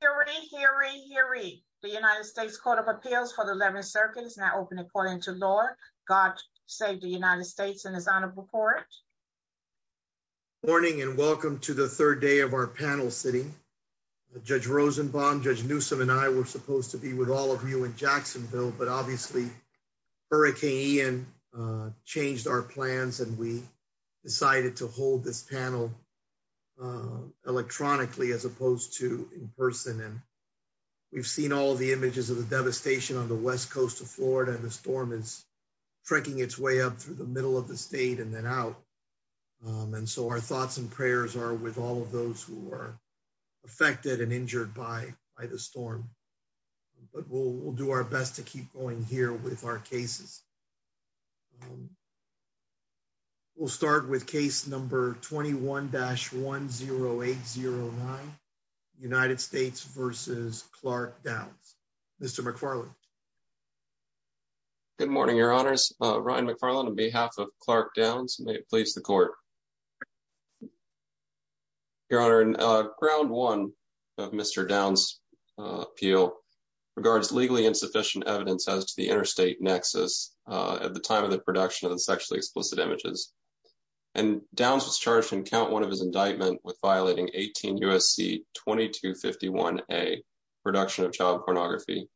here. Here we here. We the United States Court of Appeals for the 11th Circuit is now open according to law. God save the United States and his honor before it. Morning and welcome to the third day of our panel sitting. Judge Rosenbaum, Judge Newsome and I were supposed to be with all of you in Jacksonville, but obviously, Hurricane Ian changed our plans and we decided to hold this panel electronically as opposed to in person. And we've seen all of the images of the devastation on the west coast of Florida and the storm is trekking its way up through the middle of the state and then out. And so our thoughts and prayers are with all of those who are affected and injured by by the We'll start with case number 21-10809 United States v. Clark Downs. Mr. McFarland. Good morning, Your Honors. Ryan McFarland on behalf of Clark Downs. May it please the court. Your Honor, in ground one of Mr. Downs' appeal regards legally insufficient evidence as to the time of the production of the sexually explicit images. And Downs was charged in count one of his indictment with violating 18 U.S.C. 2251A, production of child pornography.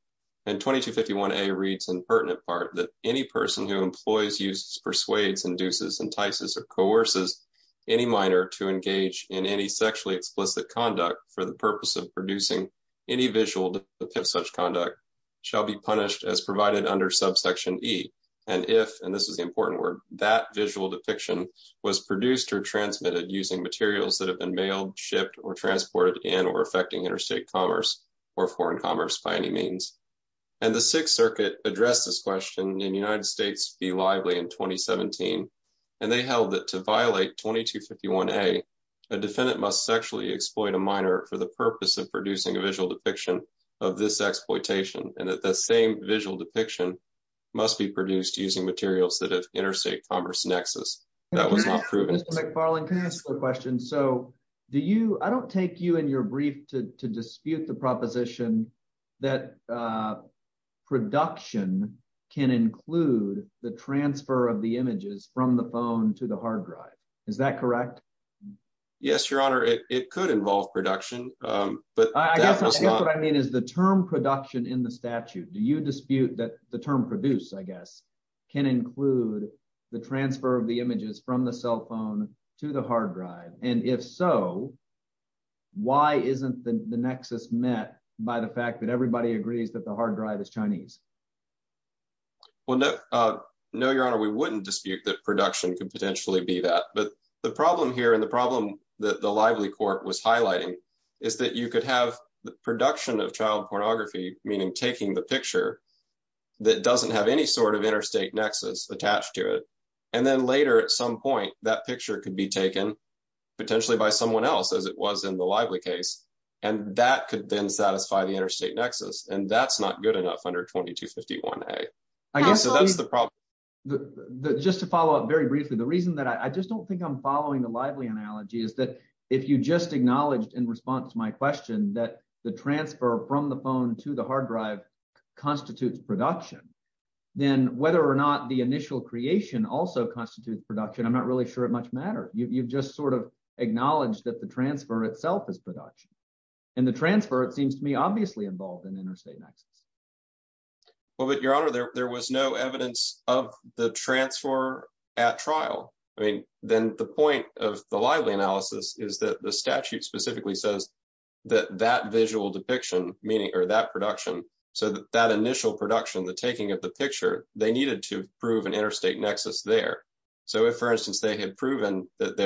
And 2251A reads in pertinent part that any person who employs, uses, persuades, induces, entices or coerces any minor to engage in any sexually explicit conduct for the purpose of producing any visual depiction of such conduct shall be punished as provided under subsection E. And if, and this is the important word, that visual depiction was produced or transmitted using materials that have been mailed, shipped, or transported in or affecting interstate commerce or foreign commerce by any means. And the Sixth Circuit addressed this question in United States v. Lively in 2017. And they held that to violate 2251A, a defendant must sexually exploit a minor for the purpose of producing a visual depiction of this exploitation. And that the same visual depiction must be produced using materials that have interstate commerce nexus. That was not proven. Mr. McFarland, can I ask a question? So do you, I don't take you in your brief to dispute the proposition that production can include the transfer of the images from the phone to the But I guess what I mean is the term production in the statute, do you dispute that the term produce, I guess, can include the transfer of the images from the cell phone to the hard drive? And if so, why isn't the nexus met by the fact that everybody agrees that the hard drive is Chinese? Well, no, no, Your Honor, we wouldn't dispute that production could potentially be that. But the problem here and the problem that the Lively Court was highlighting is that you could have the production of child pornography, meaning taking the picture that doesn't have any sort of interstate nexus attached to it. And then later, at some point, that picture could be taken, potentially by someone else as it was in the Lively case. And that could then satisfy the interstate nexus. And that's not good enough under 2251A. I guess that's the problem. Just to follow up very briefly, the reason that I just don't think I'm following the Lively analogy is that if you just acknowledged in response to my question that the transfer from the phone to the hard drive constitutes production, then whether or not the initial creation also constitutes production, I'm not really sure it much matter, you've just sort of acknowledged that the transfer itself is production. And the transfer, it seems to me obviously involved in interstate nexus. Well, but Your Honor, there was no evidence of the transfer at trial. I mean, then the point of the Lively analysis is that the statute specifically says that that visual depiction, meaning, or that production, so that initial production, the taking of the picture, they needed to prove an interstate nexus there. So if, for instance, they had proven that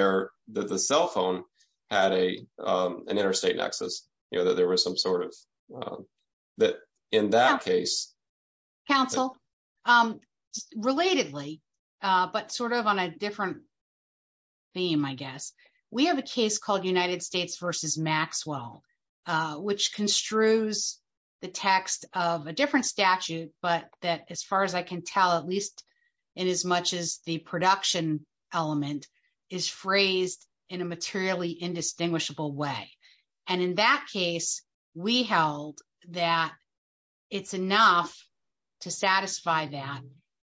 the cell phone had an interstate nexus, you know, that there was some sort of that in that case. Counsel, relatedly, but sort of on a different theme, I guess, we have a case called United States versus Maxwell, which construes the text of a different statute, but that as far as I can tell, at least in as much as the production element is phrased in a materially indistinguishable way. And in that case, we held that it's enough to satisfy that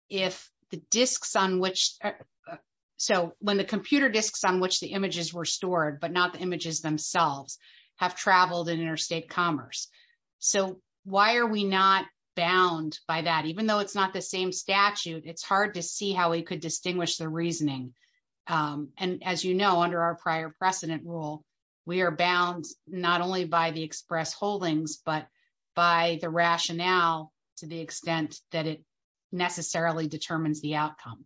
if the disks on which, so when the computer disks on which the images were stored, but not the images themselves, have traveled in interstate commerce. So why are we not bound by that? Even though it's not the same statute, it's hard to see how we could distinguish the reasoning. And as you know, under our prior precedent rule, we are bound not only by the express holdings, but by the rationale to the extent that it necessarily determines the outcome.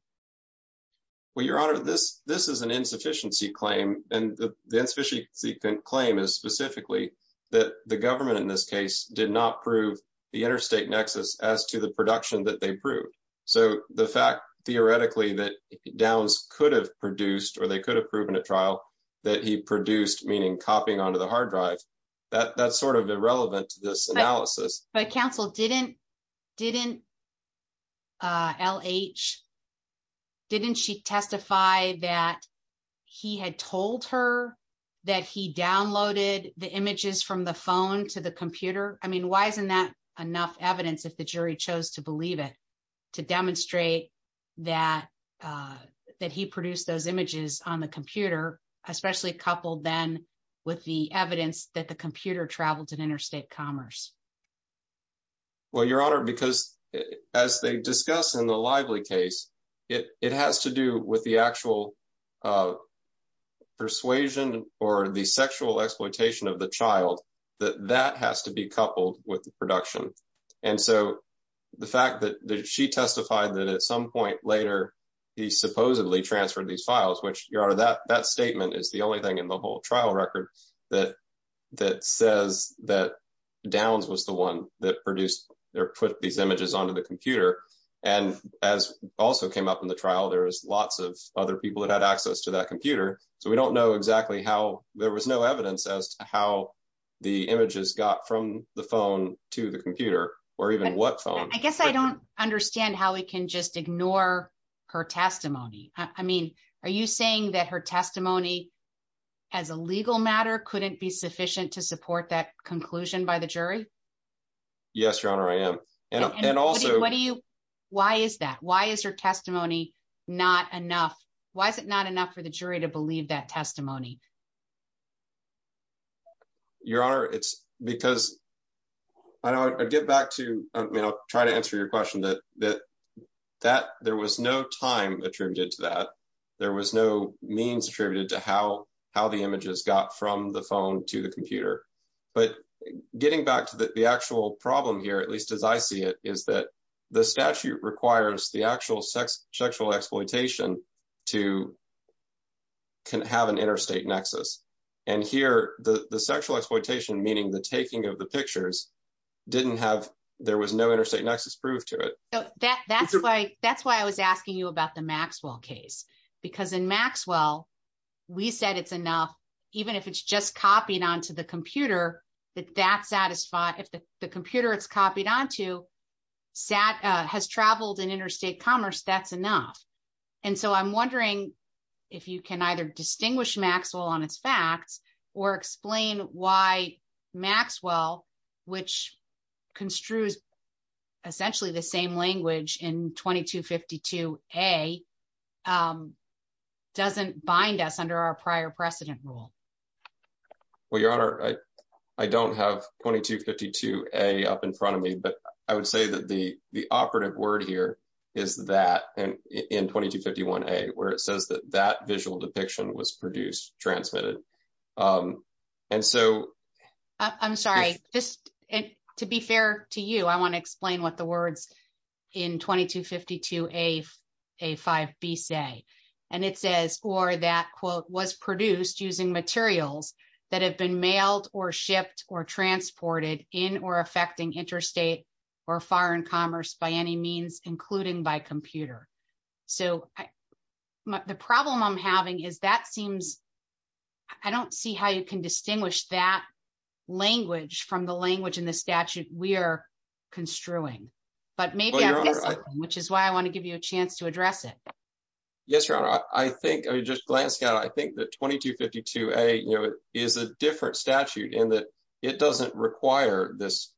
Well, Your Honor, this is an insufficiency claim. And the insufficiency claim is specifically that the government in this case did not prove the interstate nexus as to the production that they proved. So the fact, theoretically, that Downs could have produced or they could have proven at trial that he produced, meaning copying onto the hard drive, that's sort of irrelevant to this analysis. But counsel, didn't L.H., didn't she testify that he had told her that he downloaded the images from the phone to the computer? I mean, why isn't that enough evidence if the jury chose to believe it, to demonstrate that he produced those images on the computer, especially coupled then with the evidence that the computer traveled in interstate commerce? Well, Your Honor, because as they discuss in the Lively case, it has to do with the actual persuasion or the sexual exploitation of the child, that that has to be coupled with the fact that she testified that at some point later, he supposedly transferred these files, which Your Honor, that statement is the only thing in the whole trial record that says that Downs was the one that produced or put these images onto the computer. And as also came up in the trial, there was lots of other people that had access to that computer. So we don't know exactly how there was no evidence as to how the images got from the phone to the computer, or even what phone. I guess I don't understand how we can just ignore her testimony. I mean, are you saying that her testimony as a legal matter couldn't be sufficient to support that conclusion by the jury? Yes, Your Honor, I am. And also... Why is that? Why is her testimony not enough? Why is it not enough for the jury to believe that testimony? Your Honor, it's because... I'll get back to... I'll try to answer your question. There was no time attributed to that. There was no means attributed to how the images got from the phone to the computer. But getting back to the actual problem here, at least as I see it, is that the statute requires the actual sexual exploitation to have an interstate connection. And here, the sexual exploitation, meaning the taking of the pictures, didn't have... There was no interstate nexus proof to it. That's why I was asking you about the Maxwell case. Because in Maxwell, we said it's enough, even if it's just copied onto the computer, that that's satisfied. If the computer it's copied onto has traveled in interstate commerce, that's enough. And so I'm wondering if you could explain to people on its facts, or explain why Maxwell, which construes essentially the same language in 2252A, doesn't bind us under our prior precedent rule. Well, Your Honor, I don't have 2252A up in front of me. But I would say that the operative word here is that, in 2251A, where it says that that visual depiction was produced, transmitted. And so... I'm sorry, just to be fair to you, I want to explain what the words in 2252A-5B say. And it says, or that quote, was produced using materials that have been mailed or shipped or transported in or affecting interstate or foreign commerce by any means, including by computer. So the problem I'm having is that seems... I don't see how you can distinguish that language from the language in the statute we are construing. But maybe I'm missing something, which is why I want to give you a chance to address it. Yes, Your Honor. I think, I mean, just glancing out, I think that 2252A, you know, is a different statute in that it doesn't require this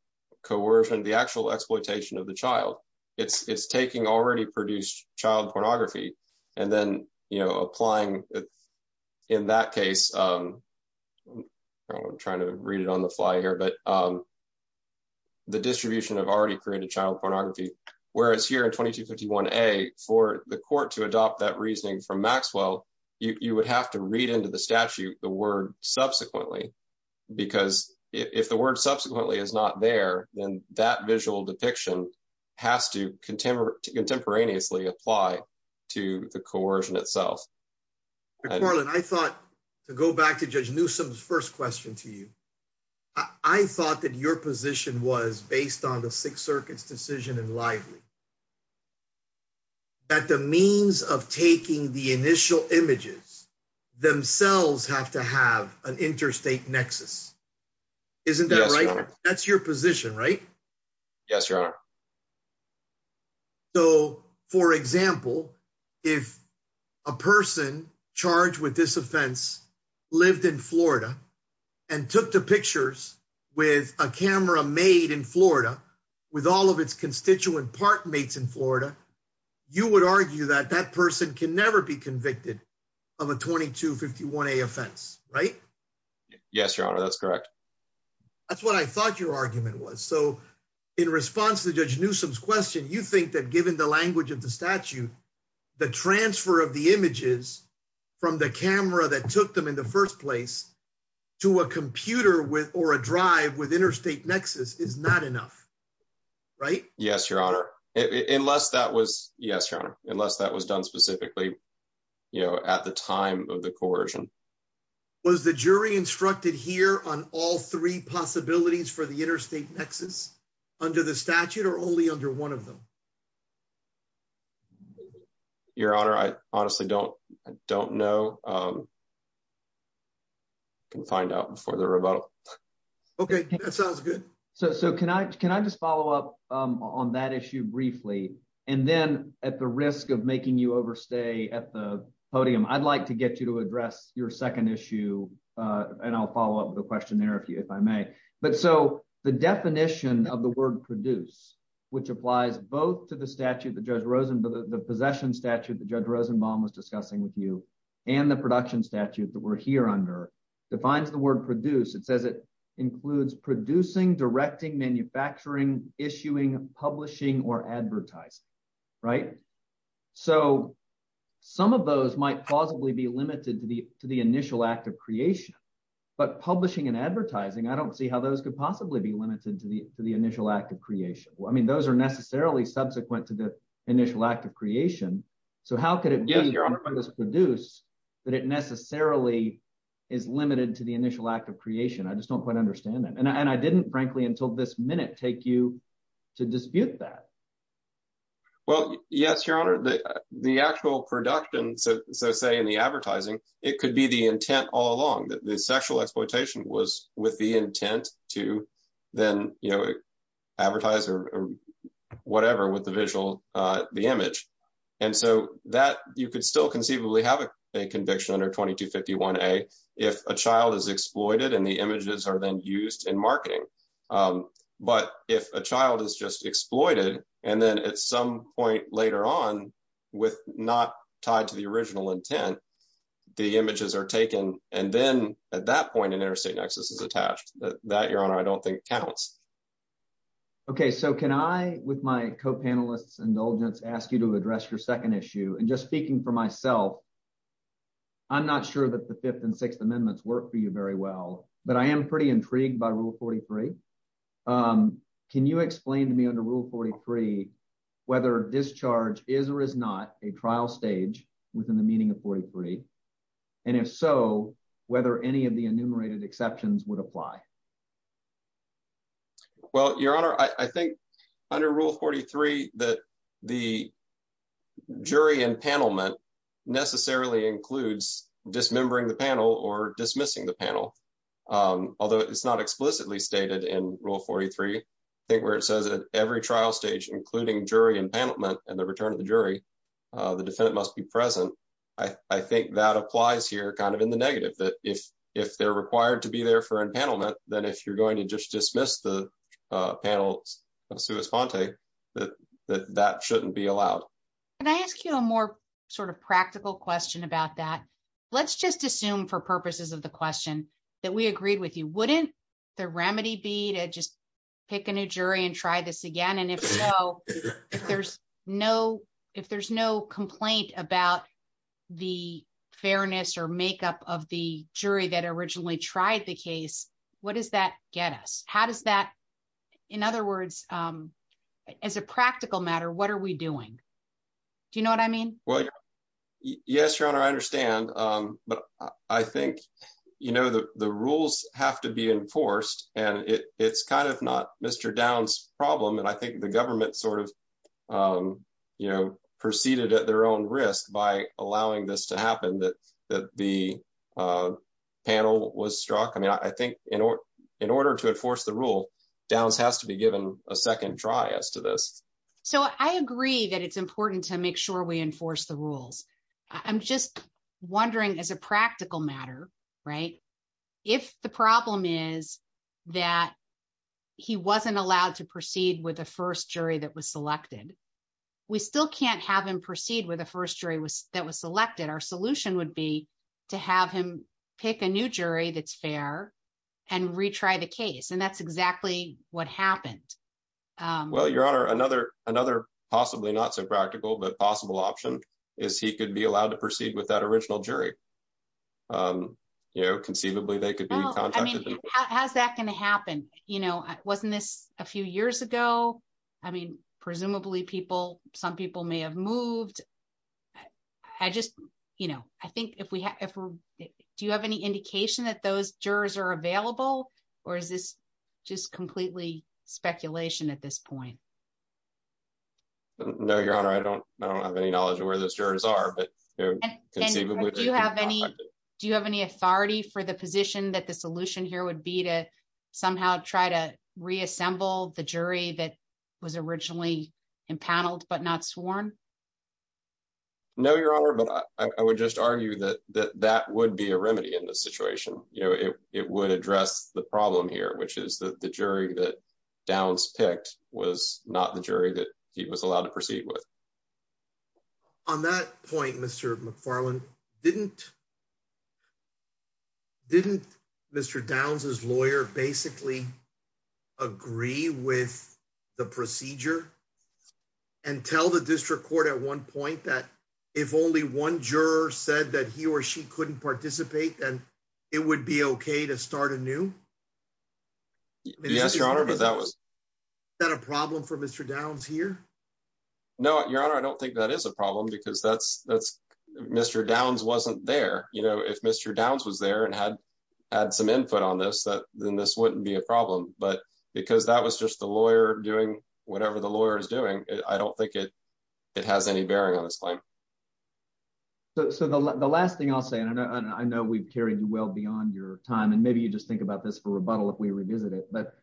coercion, the actual exploitation of the child. It's taking already produced child pornography, and then, you know, applying in that case, I'm trying to read it on the fly here, but the distribution of already created child pornography, whereas here in 2251A, for the court to adopt that reasoning from Maxwell, you would have to read into the statute the word subsequently. Because if the word subsequently is not there, then that visual depiction has to contemporaneously apply to the coercion itself. Carlin, I thought, to go back to Judge Newsom's first question to you, I thought that your position was, based on the Sixth Circuit's decision in Lively, that the means of taking the initial images themselves have to have an interstate nexus. Isn't that right? That's your position, right? Yes, Your Honor. So, for example, if a person charged with this offense lived in Florida and took the pictures with a camera made in Florida, with all of its constituent park mates in Florida, you would argue that that person can never be convicted of a 2251A offense, right? Yes, Your Honor, that's correct. That's what I thought your argument was. So, in response to Judge Newsom's question, you think that given the language of the statute, the transfer of the images from the camera that took them in the first place to a computer or a drive with interstate nexus is not enough, right? Yes, Your Honor, unless that was done specifically at the time of the coercion. Was the jury instructed here on all three possibilities for the interstate nexus? Under the statute or only under one of them? Your Honor, I honestly don't know. I can find out before the rebuttal. Okay, that sounds good. So, can I just follow up on that issue briefly? And then at the risk of making you overstay at the podium, I'd like to get you to address your second issue. And I'll the word produce, which applies both to the statute that Judge Rosenbaum, the possession statute that Judge Rosenbaum was discussing with you, and the production statute that we're here under defines the word produce. It says it includes producing, directing, manufacturing, issuing, publishing, or advertising, right? So, some of those might plausibly be limited to the initial act of creation, but publishing and advertising, I don't see how those could possibly be limited to the initial act of creation. I mean, those are necessarily subsequent to the initial act of creation. So, how could it be produced that it necessarily is limited to the initial act of creation? I just don't quite understand that. And I didn't, frankly, until this minute, take you to dispute that. Well, yes, Your Honor, the actual production, so say in the advertising, it could be the intent all along that the sexual exploitation was with intent to then advertise or whatever with the visual, the image. And so, that you could still conceivably have a conviction under 2251A if a child is exploited and the images are then used in marketing. But if a child is just exploited, and then at some point later on, with not tied to the original intent, the images are taken, and then at that point, an interstate nexus is attached. That, Your Honor, I don't think counts. Okay. So, can I, with my co-panelists' indulgence, ask you to address your second issue? And just speaking for myself, I'm not sure that the Fifth and Sixth Amendments work for you very well, but I am pretty intrigued by Rule 43. Can you explain to me under Rule 43 whether discharge is or is not a trial stage within the meaning of 43? And if so, whether any of the enumerated exceptions would apply? Well, Your Honor, I think under Rule 43 that the jury and panel meant necessarily includes dismembering the panel or dismissing the panel. Although it's not explicitly stated in Rule 43, I think where it says at every trial stage, including jury and panel meant, and the return of the jury, the defendant must be present. I think that applies here kind of in the negative, that if they're required to be there for empanelment, then if you're going to just dismiss the panel of sua sponte, that that shouldn't be allowed. Can I ask you a more sort of practical question about that? Let's just assume for purposes of the question that we agreed with you, wouldn't the remedy be to just pick a new jury and try this again? And if so, if there's no complaint about the fairness or makeup of the jury that originally tried the case, what does that get us? How does that, in other words, as a practical matter, what are we doing? Do you know what I mean? Well, yes, Your Honor, I understand. But I think, you know, the rules have to be enforced. And it's kind of not Mr. Downs problem. And I think the government sort of, you know, proceeded at their own risk by allowing this to happen that that the panel was struck. I mean, I think in order to enforce the rule, Downs has to be given a second try as to this. So I agree that it's important to make sure we enforce the rules. I'm just wondering, as a practical matter, right? If the problem is that he wasn't allowed to proceed with the first jury that was selected, we still can't have him proceed with the first jury was that was selected, our solution would be to have him pick a new jury that's fair, and retry the case. And that's exactly what happened. Well, Your Honor, another another, possibly not so practical, but possible option is he could be allowed to proceed with that original jury. You know, conceivably, they could, I mean, how's that going to happen? You know, wasn't this a few years ago? I mean, presumably people, some people may have moved. I just, you know, I think if we have, do you have any indication that those jurors are available? Or is this just completely speculation at this point? No, Your Honor, I don't have any knowledge of where those jurors are. But do you have any authority for the position that the solution here would be to somehow try to reassemble the jury that was originally impaneled, but not sworn? No, Your Honor, but I would just argue that that would be a remedy in this situation. You know, it would address the problem here, which is that the jury that Downs picked was not the jury that he was allowed to proceed with. On that point, Mr. McFarland, didn't Mr. Downs' lawyer basically agree with the procedure and tell the district court at one point that if only one juror said that he or she couldn't participate, then it would be okay to start anew? Yes, Your Honor, but that was not a problem for Mr. Downs here. No, Your Honor, I don't think that is a problem because that's, Mr. Downs wasn't there. You know, if Mr. Downs was there and had some input on this, that then this wouldn't be a problem. But because that was just the lawyer doing whatever the lawyer is doing, I don't think it has any bearing on this claim. So the last thing I'll say, and I know we've carried you well beyond your time, and maybe you just think about this for rebuttal if we revisit it, but,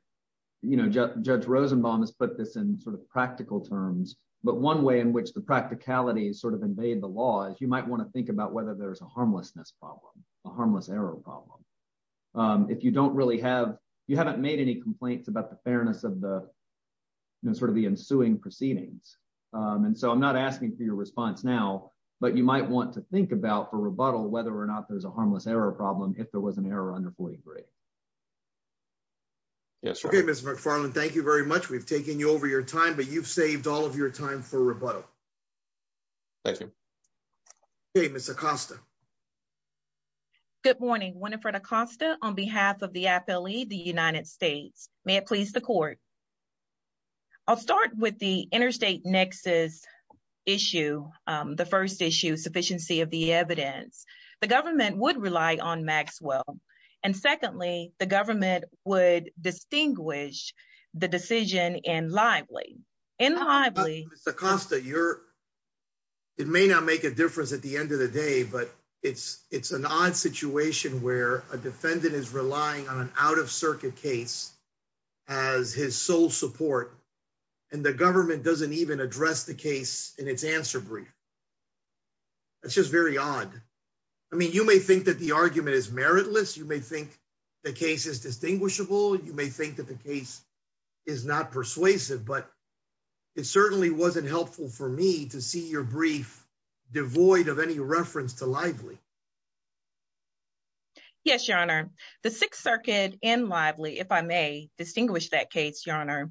you know, Judge Rosenbaum has put this in sort of practical terms, but one way in which the practicalities sort of invade the law is you might want to think about whether there's a harmlessness problem, a harmless error problem. If you don't really have, you haven't made any complaints about fairness of the sort of the ensuing proceedings. And so I'm not asking for your response now, but you might want to think about for rebuttal whether or not there's a harmless error problem if there was an error under 43. Yes. Okay, Mr. McFarland, thank you very much. We've taken you over your time, but you've saved all of your time for rebuttal. Thank you. Okay, Ms. Acosta. Good morning. Winifred Acosta on behalf of the Appellee, the United States. May it please the court. I'll start with the interstate nexus issue, the first issue, sufficiency of the evidence. The government would rely on Maxwell. And secondly, the government would distinguish the decision in lively. In lively. Ms. Acosta, you're, it may not make a difference at the end of the day, but it's, it's an odd situation where a defendant is relying on an out of circuit case as his sole support. And the government doesn't even address the case in its answer brief. It's just very odd. I mean, you may think that the argument is meritless. You may think the case is distinguishable. You may think that the case is not persuasive, but it certainly wasn't helpful for me to see your brief devoid of any reference to lively. Yes, your honor, the sixth circuit in lively, if I may distinguish that case, your honor.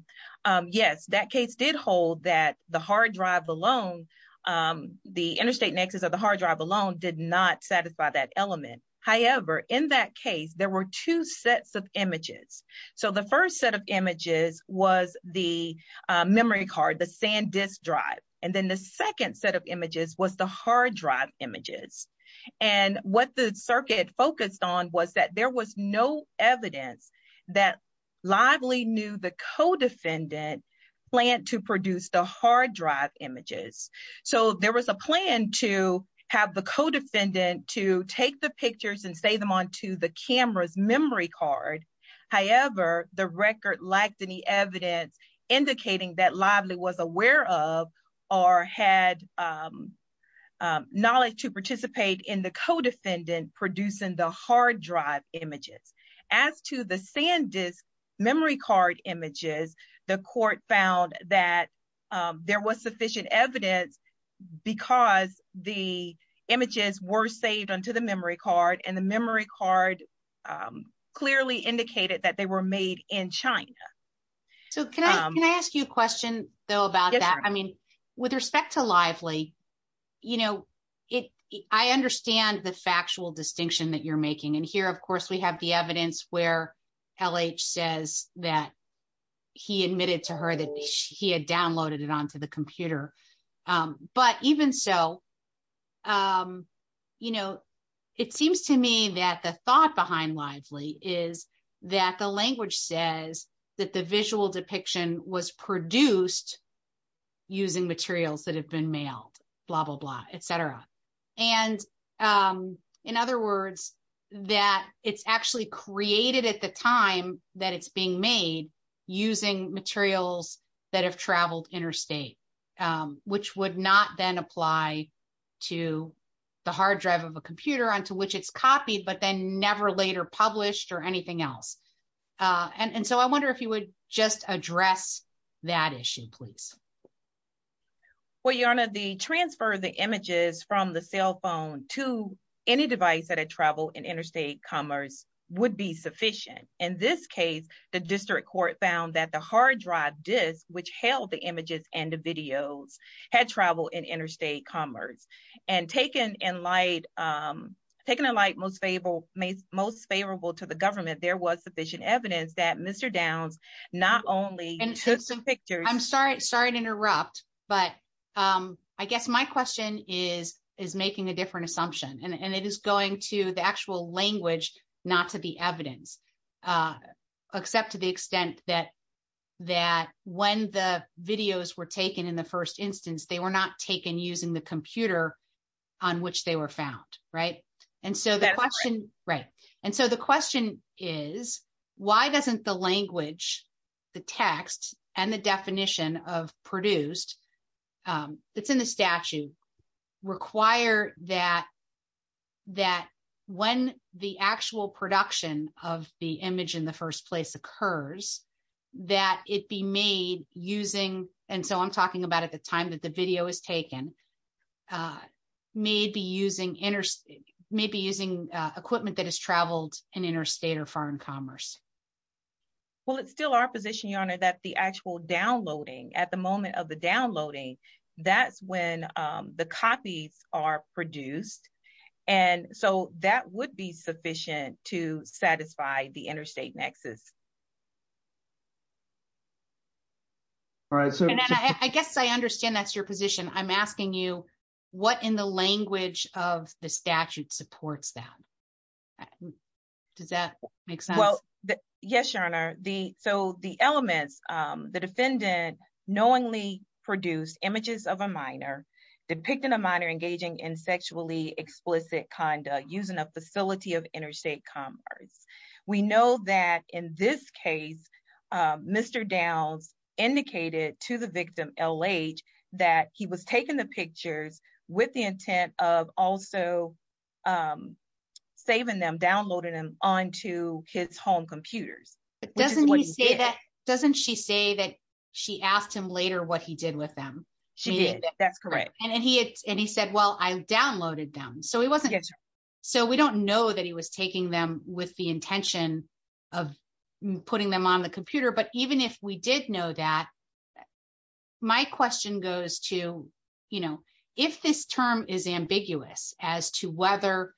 Yes, that case did hold that the hard drive alone, the interstate nexus of the hard drive alone did not satisfy that element. However, in that case, there were two sets of images. So the first set of images was the memory card, the sand disk drive. And then the second set of images was the hard drive images. And what the circuit focused on was that there was no evidence that lively knew the co-defendant plan to produce the hard drive images. So there was a plan to have the co-defendant to take the pictures and say them on to the camera's memory card. However, the record lacked any evidence indicating that lively was aware of or had knowledge to participate in the co-defendant producing the hard drive images. As to the sand disk memory card images, the court found that there was sufficient evidence because the images were saved onto the memory card and the So can I, can I ask you a question though about that? I mean, with respect to lively, you know, it, I understand the factual distinction that you're making. And here, of course, we have the evidence where LH says that he admitted to her that he had downloaded it onto the computer. But even so, you know, it seems to me that the thought behind lively is that the language says that the visual depiction was produced using materials that have been mailed, blah, blah, blah, et cetera. And in other words, that it's actually created at the time that it's being made using materials that have traveled interstate, which would not then apply to the hard drive of a computer onto which it's copied, but then never later published or anything else. And so I wonder if you would just address that issue, please. Well, Your Honor, the transfer of the images from the cell phone to any device that had traveled in interstate commerce would be sufficient. In this case, the district court found that the hard drive disk, which held the images and the videos, had traveled in interstate commerce. And taken in light, most favorable to the government, there was sufficient evidence that Mr. Downs not only took some pictures- I'm sorry to interrupt, but I guess my question is making a different assumption. And it is going to the actual language, not to the evidence, except to the extent that when the videos were taken in the first instance, they were not taken using the computer on which they were found, right? And so the question is, why doesn't the language, the text, and the definition of produced, that's in the statute, require that when the actual production of the image in the first place occurs, that it be made using- and so I'm asking, why is it that when the image is taken, may be using equipment that has traveled in interstate or foreign commerce? Well, it's still our position, Your Honor, that the actual downloading, at the moment of the downloading, that's when the copies are produced. And so that would be sufficient to satisfy the interstate nexus. All right, so- And I guess I understand that's your position. I'm asking you, what in the language of the statute supports that? Does that make sense? Well, yes, Your Honor. So the elements, the defendant knowingly produced images of a minor, depicting a minor engaging in sexually explicit conduct using a facility of interstate commerce. We know that in this case, Mr. Downs indicated to the victim, L.H., that he was taking the pictures with the intent of also saving them, downloading them onto his home computers. But doesn't he say that- Which is what he did. Doesn't she say that she asked him later what he did with them? She did. That's correct. And he said, well, I downloaded them. So he wasn't- Yes, Your Honor. So we don't know that he was taking them with the intention of putting them on the computer. But even if we did know that, my question goes to, if this term is ambiguous as to whether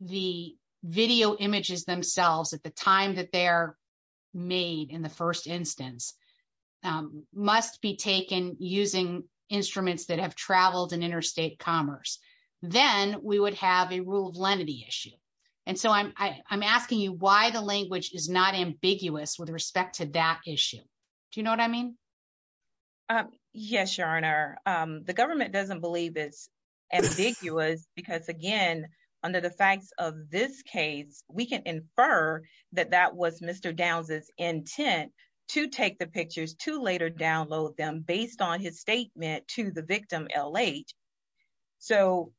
the video images themselves at the time that they're made in the first instance must be taken using instruments that have traveled in interstate commerce, then we would have a rule of lenity issue. And so I'm asking you why the language is not ambiguous with respect to that issue. Do you know what I mean? Yes, Your Honor. The government doesn't believe it's ambiguous because, again, under the facts of this case, we can infer that that was Mr. Downs' intent to take the pictures, to later download them based on his statement to the victim LH. So-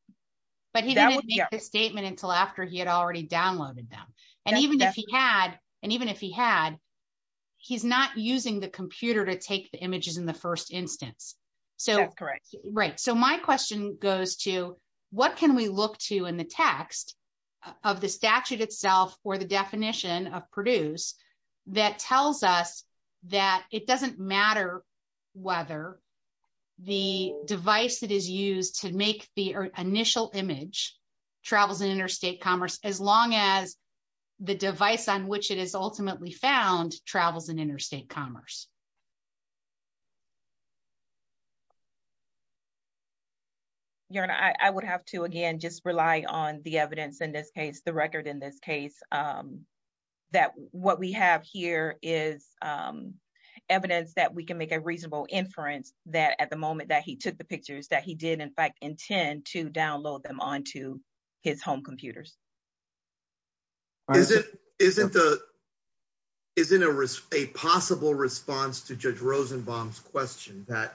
But he didn't make the statement until after he had already downloaded them. And even if he had, he's not using the computer to take the images in the first instance. That's correct. Right. So my question goes to what can we look to in the text of the statute itself or the definition of Purdue's that tells us that it doesn't matter whether the device that is used to make the initial image travels in interstate commerce, as long as the device on which it is used is available? Your Honor, I would have to, again, just rely on the evidence in this case, the record in this case, that what we have here is evidence that we can make a reasonable inference that at the moment that he took the pictures that he did, in fact, intend to download them onto his home computers. Isn't a possible response to Judge Rosenbaum's question that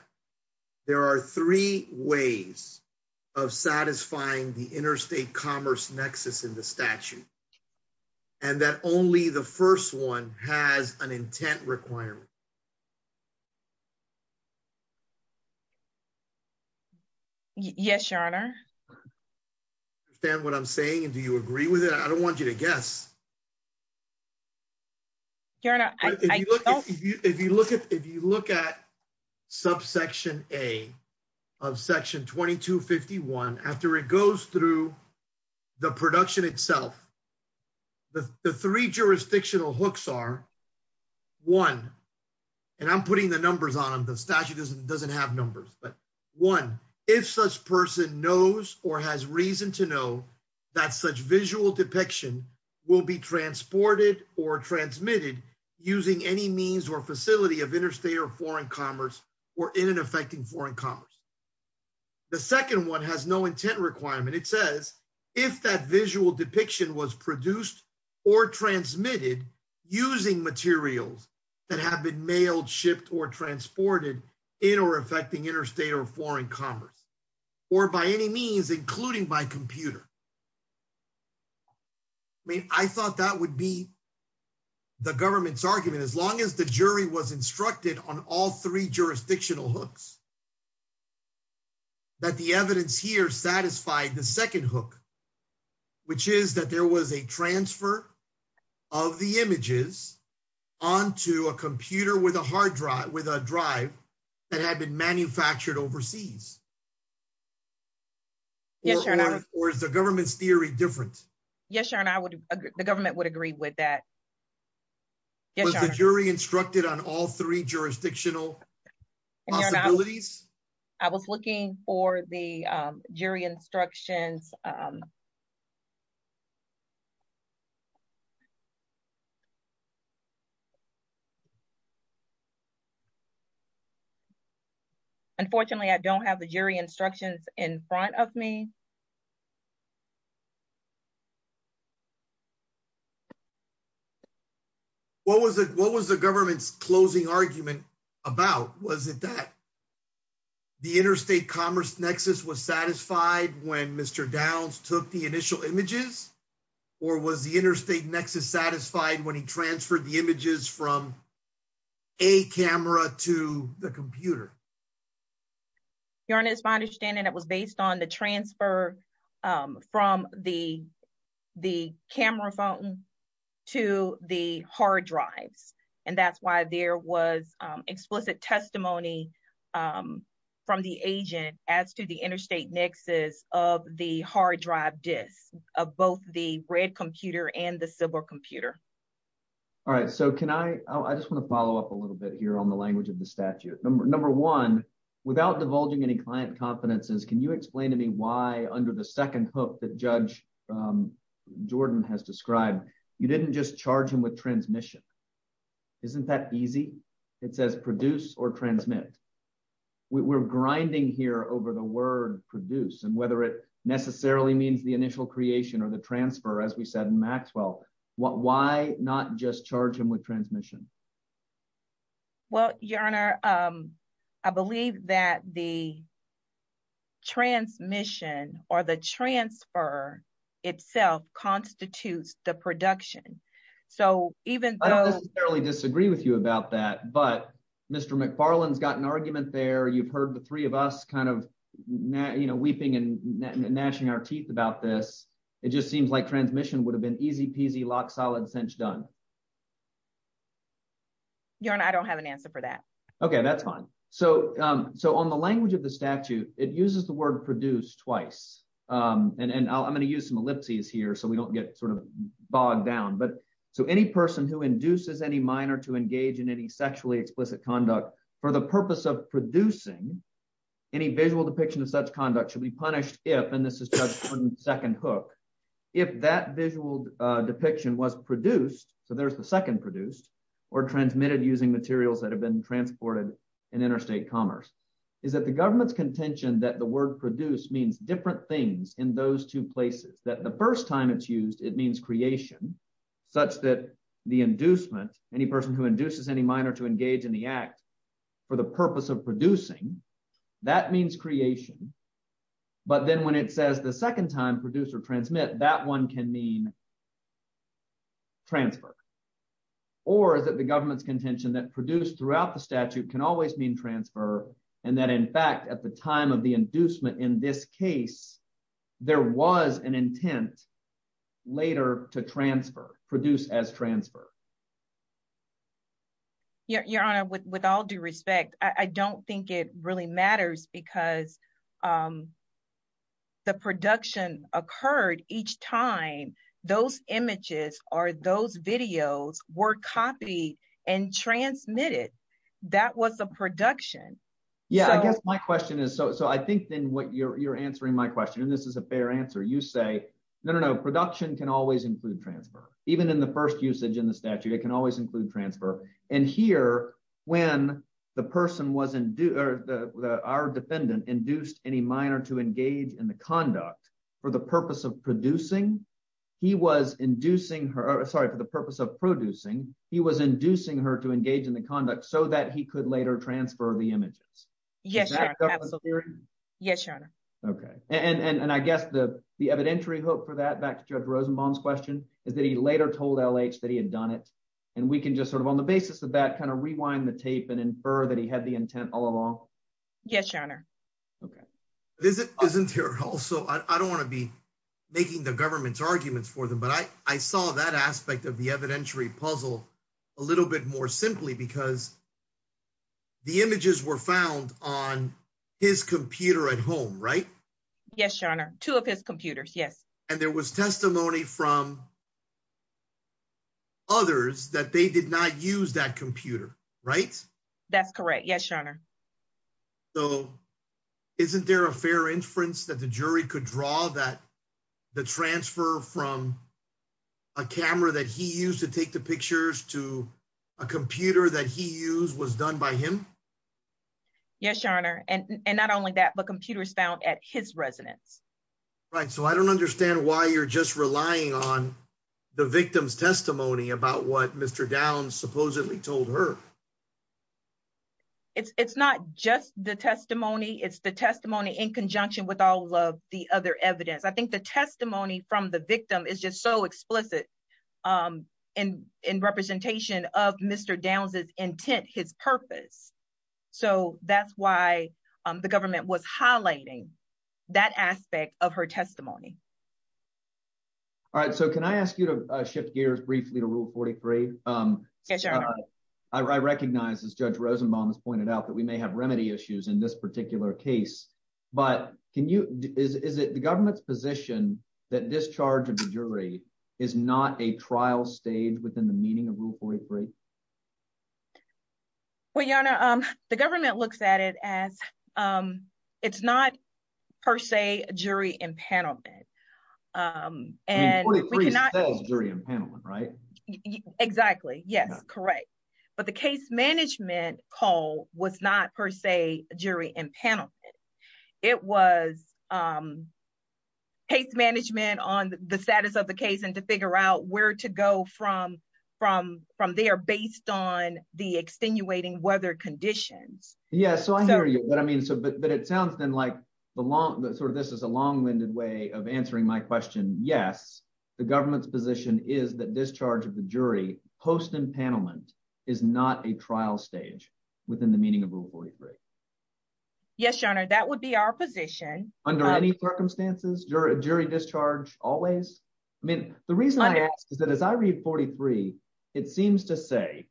there are three ways of satisfying the interstate commerce nexus in the statute, and that only the first one has an intent requirement? Yes, Your Honor. I understand what I'm saying. And do you agree with it? I don't want you to guess. Your Honor, I don't. If you look at, if you look at subsection A of section 2251, after it goes through the production itself, the three jurisdictional hooks are one, and I'm putting the numbers on the statute doesn't have numbers, but one, if such person knows or has reason to know that such visual depiction will be transported or transmitted using any means or facility of interstate or foreign commerce or in and affecting foreign commerce. The second one has no intent requirement. It says, if that visual depiction was produced or transmitted using materials that have been mailed, shipped, or transported in or affecting interstate or foreign commerce, or by any means, including by computer. I mean, I thought that would be the government's argument, as long as the jury was instructed on all three jurisdictional hooks, that the evidence here satisfied the second hook, which is that there was a transfer of the images onto a computer with a hard drive, with a drive that had been manufactured overseas. Yes, Your Honor. Or is the government's theory different? Yes, Your Honor, I would, the government would agree with that. Yes, Your Honor. Was the jury instructed on all three jurisdictional possibilities? I was looking for the jury instructions. Unfortunately, I don't have the jury instructions in front of me. What was the government's closing argument about? Was it that? The interstate commerce nexus was satisfied when Mr. Downs took the initial images? Or was the interstate nexus satisfied when he transferred the images from a camera to the computer? Your Honor, it's my understanding it was based on the transfer from the camera phone to the from the agent as to the interstate nexus of the hard drive disk, of both the red computer and the silver computer. All right, so can I, I just want to follow up a little bit here on the language of the statute. Number one, without divulging any client confidences, can you explain to me why under the second hook that Judge Jordan has described, you didn't just charge him with transmit? We're grinding here over the word produce and whether it necessarily means the initial creation or the transfer, as we said in Maxwell, why not just charge him with transmission? Well, Your Honor, I believe that the transmission or the transfer itself constitutes the production. So even though... I don't necessarily disagree with you about that, but Mr. McFarland's got an argument there. You've heard the three of us kind of, you know, weeping and gnashing our teeth about this. It just seems like transmission would have been easy peasy, lock, solid, cinch, done. Your Honor, I don't have an answer for that. Okay, that's fine. So on the language of the statute, it uses the word produce twice. And I'm going to use some ellipses here so we don't get sort of bogged down, but so any person who induces any minor to engage in any sexually explicit conduct for the purpose of producing any visual depiction of such conduct should be punished if, and this is Judge Jordan's second hook, if that visual depiction was produced, so there's the second produced, or transmitted using materials that have been transported in interstate commerce, is that the government's contention that the word produce means different things in those two places, that the first time it's used, it means creation, such that the inducement, any person who induces any minor to engage in the act for the purpose of producing, that means creation. But then when it says the second time produce or transmit, that one can mean transfer, or is it the government's contention that produce throughout the statute can always mean transfer, and that in fact at the time of the inducement in this case, there was an intent later to transfer, produce as transfer? Your Honor, with all due respect, I don't think it really matters because the production occurred each time those images or those videos were copied and transmitted. That was a production. Yeah, I guess my question is, so I think then what you're answering my question, and this is a fair answer, you say, no, no, no, production can always include transfer, even in the first usage in the statute, it can always include transfer. And here, when the person was, our defendant induced any minor to engage in the conduct for the purpose of producing, he was inducing her, sorry, for the purpose of producing, he was inducing her to engage in the conduct so that he could later transfer the images. Yes, Your Honor. Okay, and I guess the evidentiary hope for that, back to Judge Rosenbaum's question, is that he later told LH that he had done it, and we can just sort of on the basis of that kind of rewind the tape and infer that he had the intent all along. Yes, Your Honor. Isn't there also, I don't want to be making the government's arguments for them, but I saw that of the evidentiary puzzle a little bit more simply because the images were found on his computer at home, right? Yes, Your Honor, two of his computers, yes. And there was testimony from others that they did not use that computer, right? That's correct, yes, Your Honor. So isn't there a fair inference that the jury could draw that the transfer from a camera that he used to take the pictures to a computer that he used was done by him? Yes, Your Honor, and not only that, but computers found at his residence. Right, so I don't understand why you're just relying on the victim's testimony about what Mr. Downs supposedly told her. It's not just the testimony, it's the testimony in conjunction with all of the other evidence. I think the testimony from the victim is just so explicit in representation of Mr. Downs' intent, his purpose. So that's why the government was highlighting that aspect of her testimony. All right, so can I ask you to shift gears briefly to Rule 43? Yes, Your Honor. I recognize, as Judge Rosenbaum has pointed out, that we may have remedy issues in this position that discharge of the jury is not a trial stage within the meaning of Rule 43. Well, Your Honor, the government looks at it as it's not, per se, jury impanelment. Rule 43 spells jury impanelment, right? Exactly, yes, correct. But the case management call was not, per se, jury impanelment. It was case management on the status of the case and to figure out where to go from there based on the extenuating weather conditions. Yeah, so I hear you, but it sounds then like this is a long-winded way of answering my question. Yes, the government's position is that discharge of the jury post-impanelment is not a trial stage within the meaning of Rule 43. Yes, Your Honor, that would be our position. Under any circumstances, jury discharge always? I mean, the reason I ask is that as I read 43, it seems to say,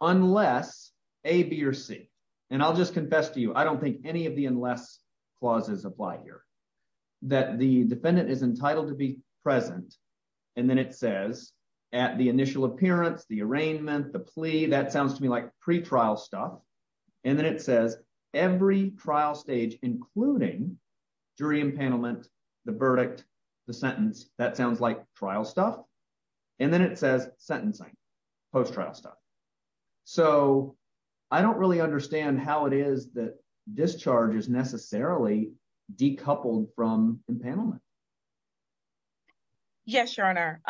unless A, B, or C, and I'll just confess to you, I don't think any of the unless clauses apply here, that the defendant is entitled to be present, and then it says at the initial appearance, the arraignment, the plea, that sounds to me like pre-trial stuff, and then it says every trial stage, including jury impanelment, the verdict, the sentence, that sounds like trial stuff, and then it says sentencing, post-trial stuff. So I don't really understand how it is that discharge is necessarily decoupled from impanelment. Yes, Your Honor.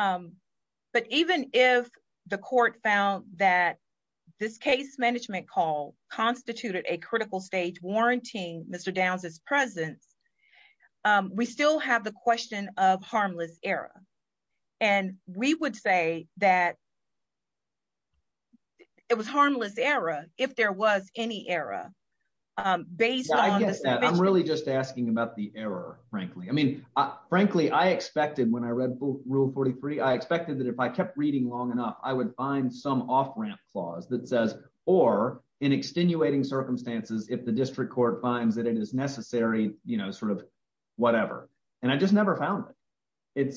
But even if the court found that this case management call constituted a critical stage warranting Mr. Downs' presence, we still have the question of harmless error. And we would say that it was harmless error if there was any error based on the... Yeah, I get that. I'm really just asking about the error, frankly. Frankly, I expected when I read Rule 43, I expected that if I kept reading long enough, I would find some off-ramp clause that says, or in extenuating circumstances, if the district court finds that it is necessary, whatever. And I just never found it.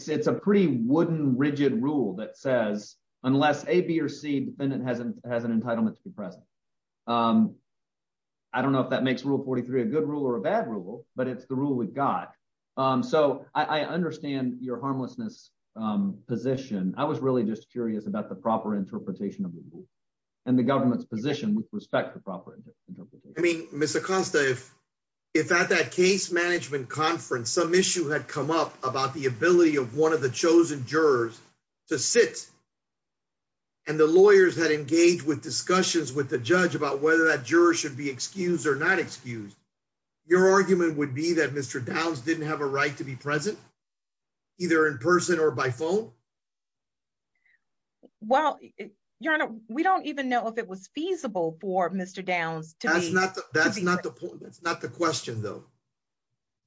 It's a pretty wooden, rigid rule that says, unless A, B, or C, defendant has an entitlement to be present. I don't know if that makes Rule 43 a good rule or a bad rule, but it's the rule we've got. So I understand your harmlessness position. I was really just curious about the proper interpretation of the rule and the government's position with respect to proper interpretation. I mean, Mr. Costa, if at that case management conference, some issue had come up about the ability of one of the chosen jurors to sit, and the lawyers had engaged with discussions with the judge about whether that juror should be excused or not excused, your argument would be that Mr. Downs didn't have a right to be present, either in person or by phone? Well, Your Honor, we don't even know if it was feasible for Mr. Downs to be present. That's not the point. That's not the question, though.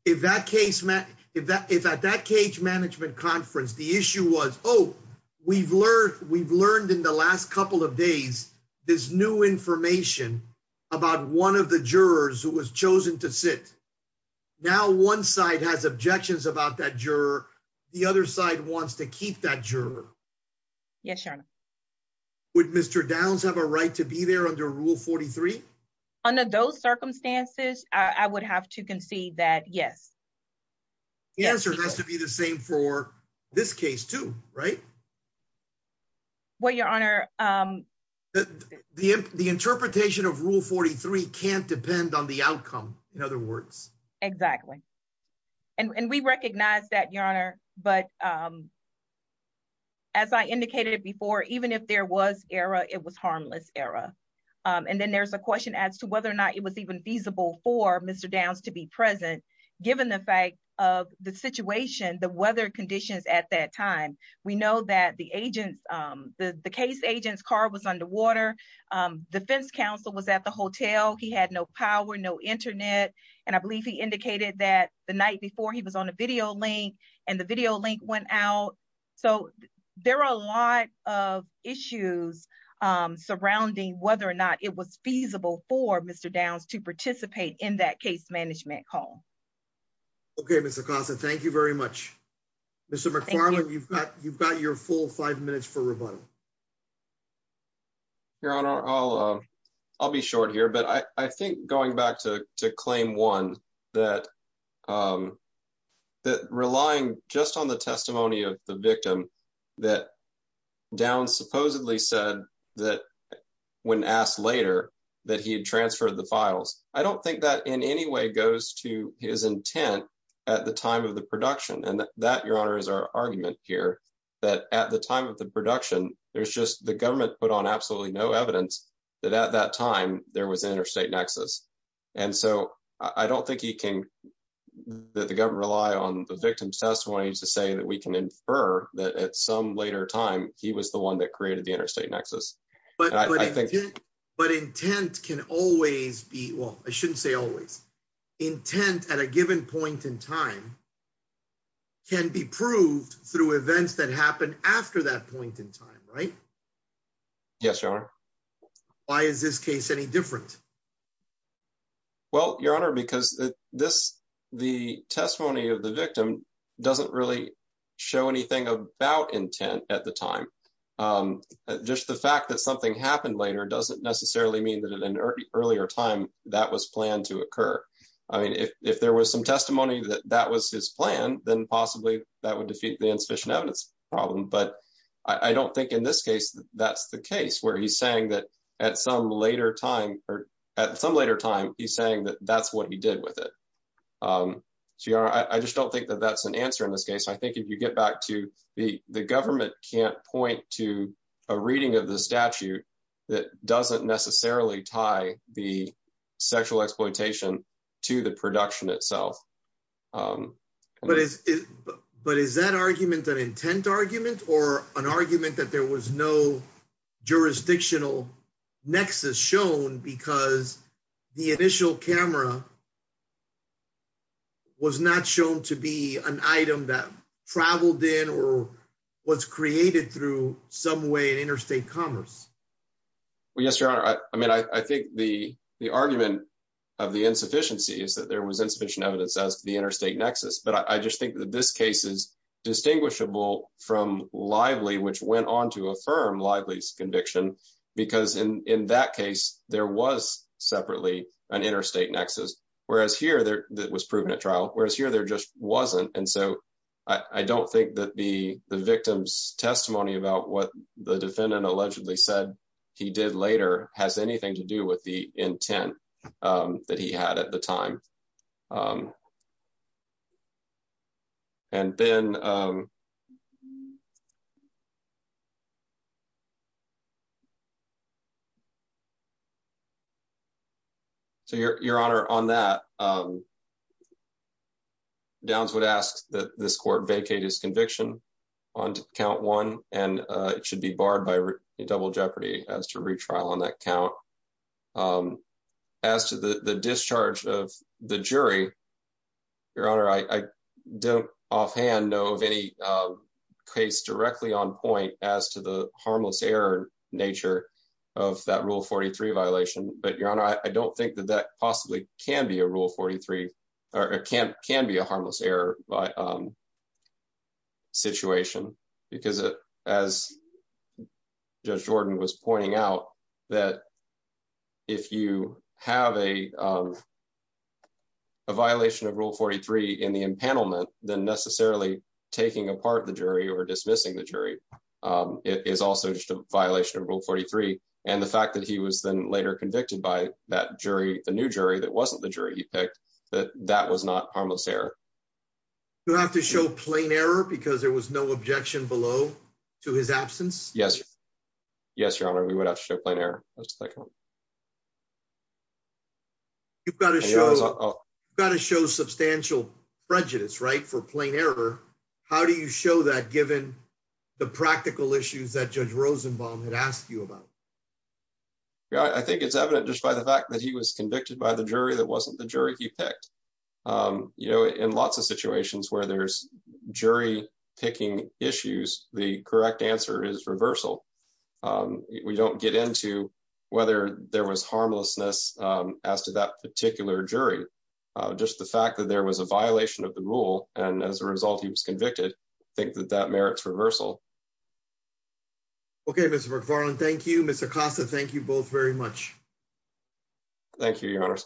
If at that case management conference, the issue was, oh, we've learned in the last couple of days this new information about one of the jurors who was chosen to sit. Now one side has objections about that juror. The other side wants to keep that juror. Yes, Your Honor. Would Mr. Downs have a right to be there under Rule 43? Under those circumstances, I would have to concede that yes. The answer has to be the same for this case, too, right? Well, Your Honor. The interpretation of Rule 43 can't depend on the outcome, in other words. Exactly. And we recognize that, Your Honor. But as I indicated before, even if there was error, it was harmless error. And then there's a question as to whether or not it was even feasible for Mr. Downs to be present, given the fact of the situation, the weather conditions at that time. We know that the case agent's car was underwater. The defense counsel was at the hotel. He had no power, no internet. And I believe he indicated that the night before he was on a video link, and the video link went out. So there are a lot of issues surrounding whether or not it was feasible for Mr. Downs to participate in that case management call. Okay, Ms. Acosta, thank you very much. Mr. McFarland, you've got your full five minutes for rebuttal. Your Honor, I'll be short here, but I think going back to Claim 1, that relying just on the testimony of the victim that Downs supposedly said that when asked later that he transferred the files, I don't think that in any way goes to his intent at the time of the production. And that, Your Honor, is our argument here, that at the time of the production, there's just the government put on absolutely no evidence that at that time there was an interstate nexus. And so I don't think he can, that the government rely on the victim's testimony to say that we can infer that at some later time, he was the one that created the interstate nexus. But intent can always be, well, I shouldn't say always, intent at a given point in time can be proved through events that happen after that point in time, right? Yes, Your Honor. Why is this case any different? Well, Your Honor, because the testimony of the victim doesn't really show anything about intent at the time. Just the fact that something happened later doesn't necessarily mean that at an earlier time that was planned to occur. I mean, if there was some testimony that that was his plan, then possibly that would defeat the insufficient evidence problem. But I don't think in this case that that's the case where he's saying that at some later time, he's saying that that's what he did with it. So, Your Honor, I just don't think that that's an answer in this case. I think if you get back to, the government can't point to a reading of the statute that doesn't necessarily tie the sexual exploitation to the production itself. But is that argument an intent argument or an argument that there was no jurisdictional nexus shown because the initial camera was not shown to be an item that traveled in or was created through some way in interstate commerce? Well, yes, Your Honor. I mean, I think the argument of the insufficiency is that there was insufficient evidence as to the interstate nexus. But I just think that this case is conviction because in that case, there was separately an interstate nexus that was proven at trial, whereas here there just wasn't. And so I don't think that the victim's testimony about what the defendant allegedly said he did later has anything to do with the intent that he had at the time. So, Your Honor, on that, Downs would ask that this court vacate his conviction on count one, and it should be barred by double jeopardy as to retrial on that count. As to the discharge of the jury, Your Honor, I don't offhand know of any case directly on point as to the harmless error nature of that Rule 43 violation. But, Your Honor, I don't think that that possibly can be a Rule 43, or it can be a harmless error situation because, as Judge Jordan was pointing out, that if you have a violation of Rule 43 in the impanelment, then necessarily taking apart the jury or dismissing the jury is also just a violation of Rule 43. And the fact that he was then later convicted by that jury, the new jury that wasn't the jury he picked, that that was not harmless error. You have to show plain error because there was no objection below to his absence? Yes. Yes, Your Honor, we would have to show plain error. You've got to show substantial prejudice, right, for plain error. How do you show that, given the practical issues that Judge Rosenbaum had asked you about? Yeah, I think it's evident just by the fact that he was convicted by the jury that wasn't the jury he picked. You know, in lots of situations where there's jury picking issues, the correct answer is reversal. We don't get into whether there was harmlessness as to that particular jury. Just the fact that there was a violation of the Rule, and as a result, he was convicted, I think that that merits reversal. Okay, Mr. McFarland, thank you. Mr. Costa, thank you both very much. Thank you, Your Honor.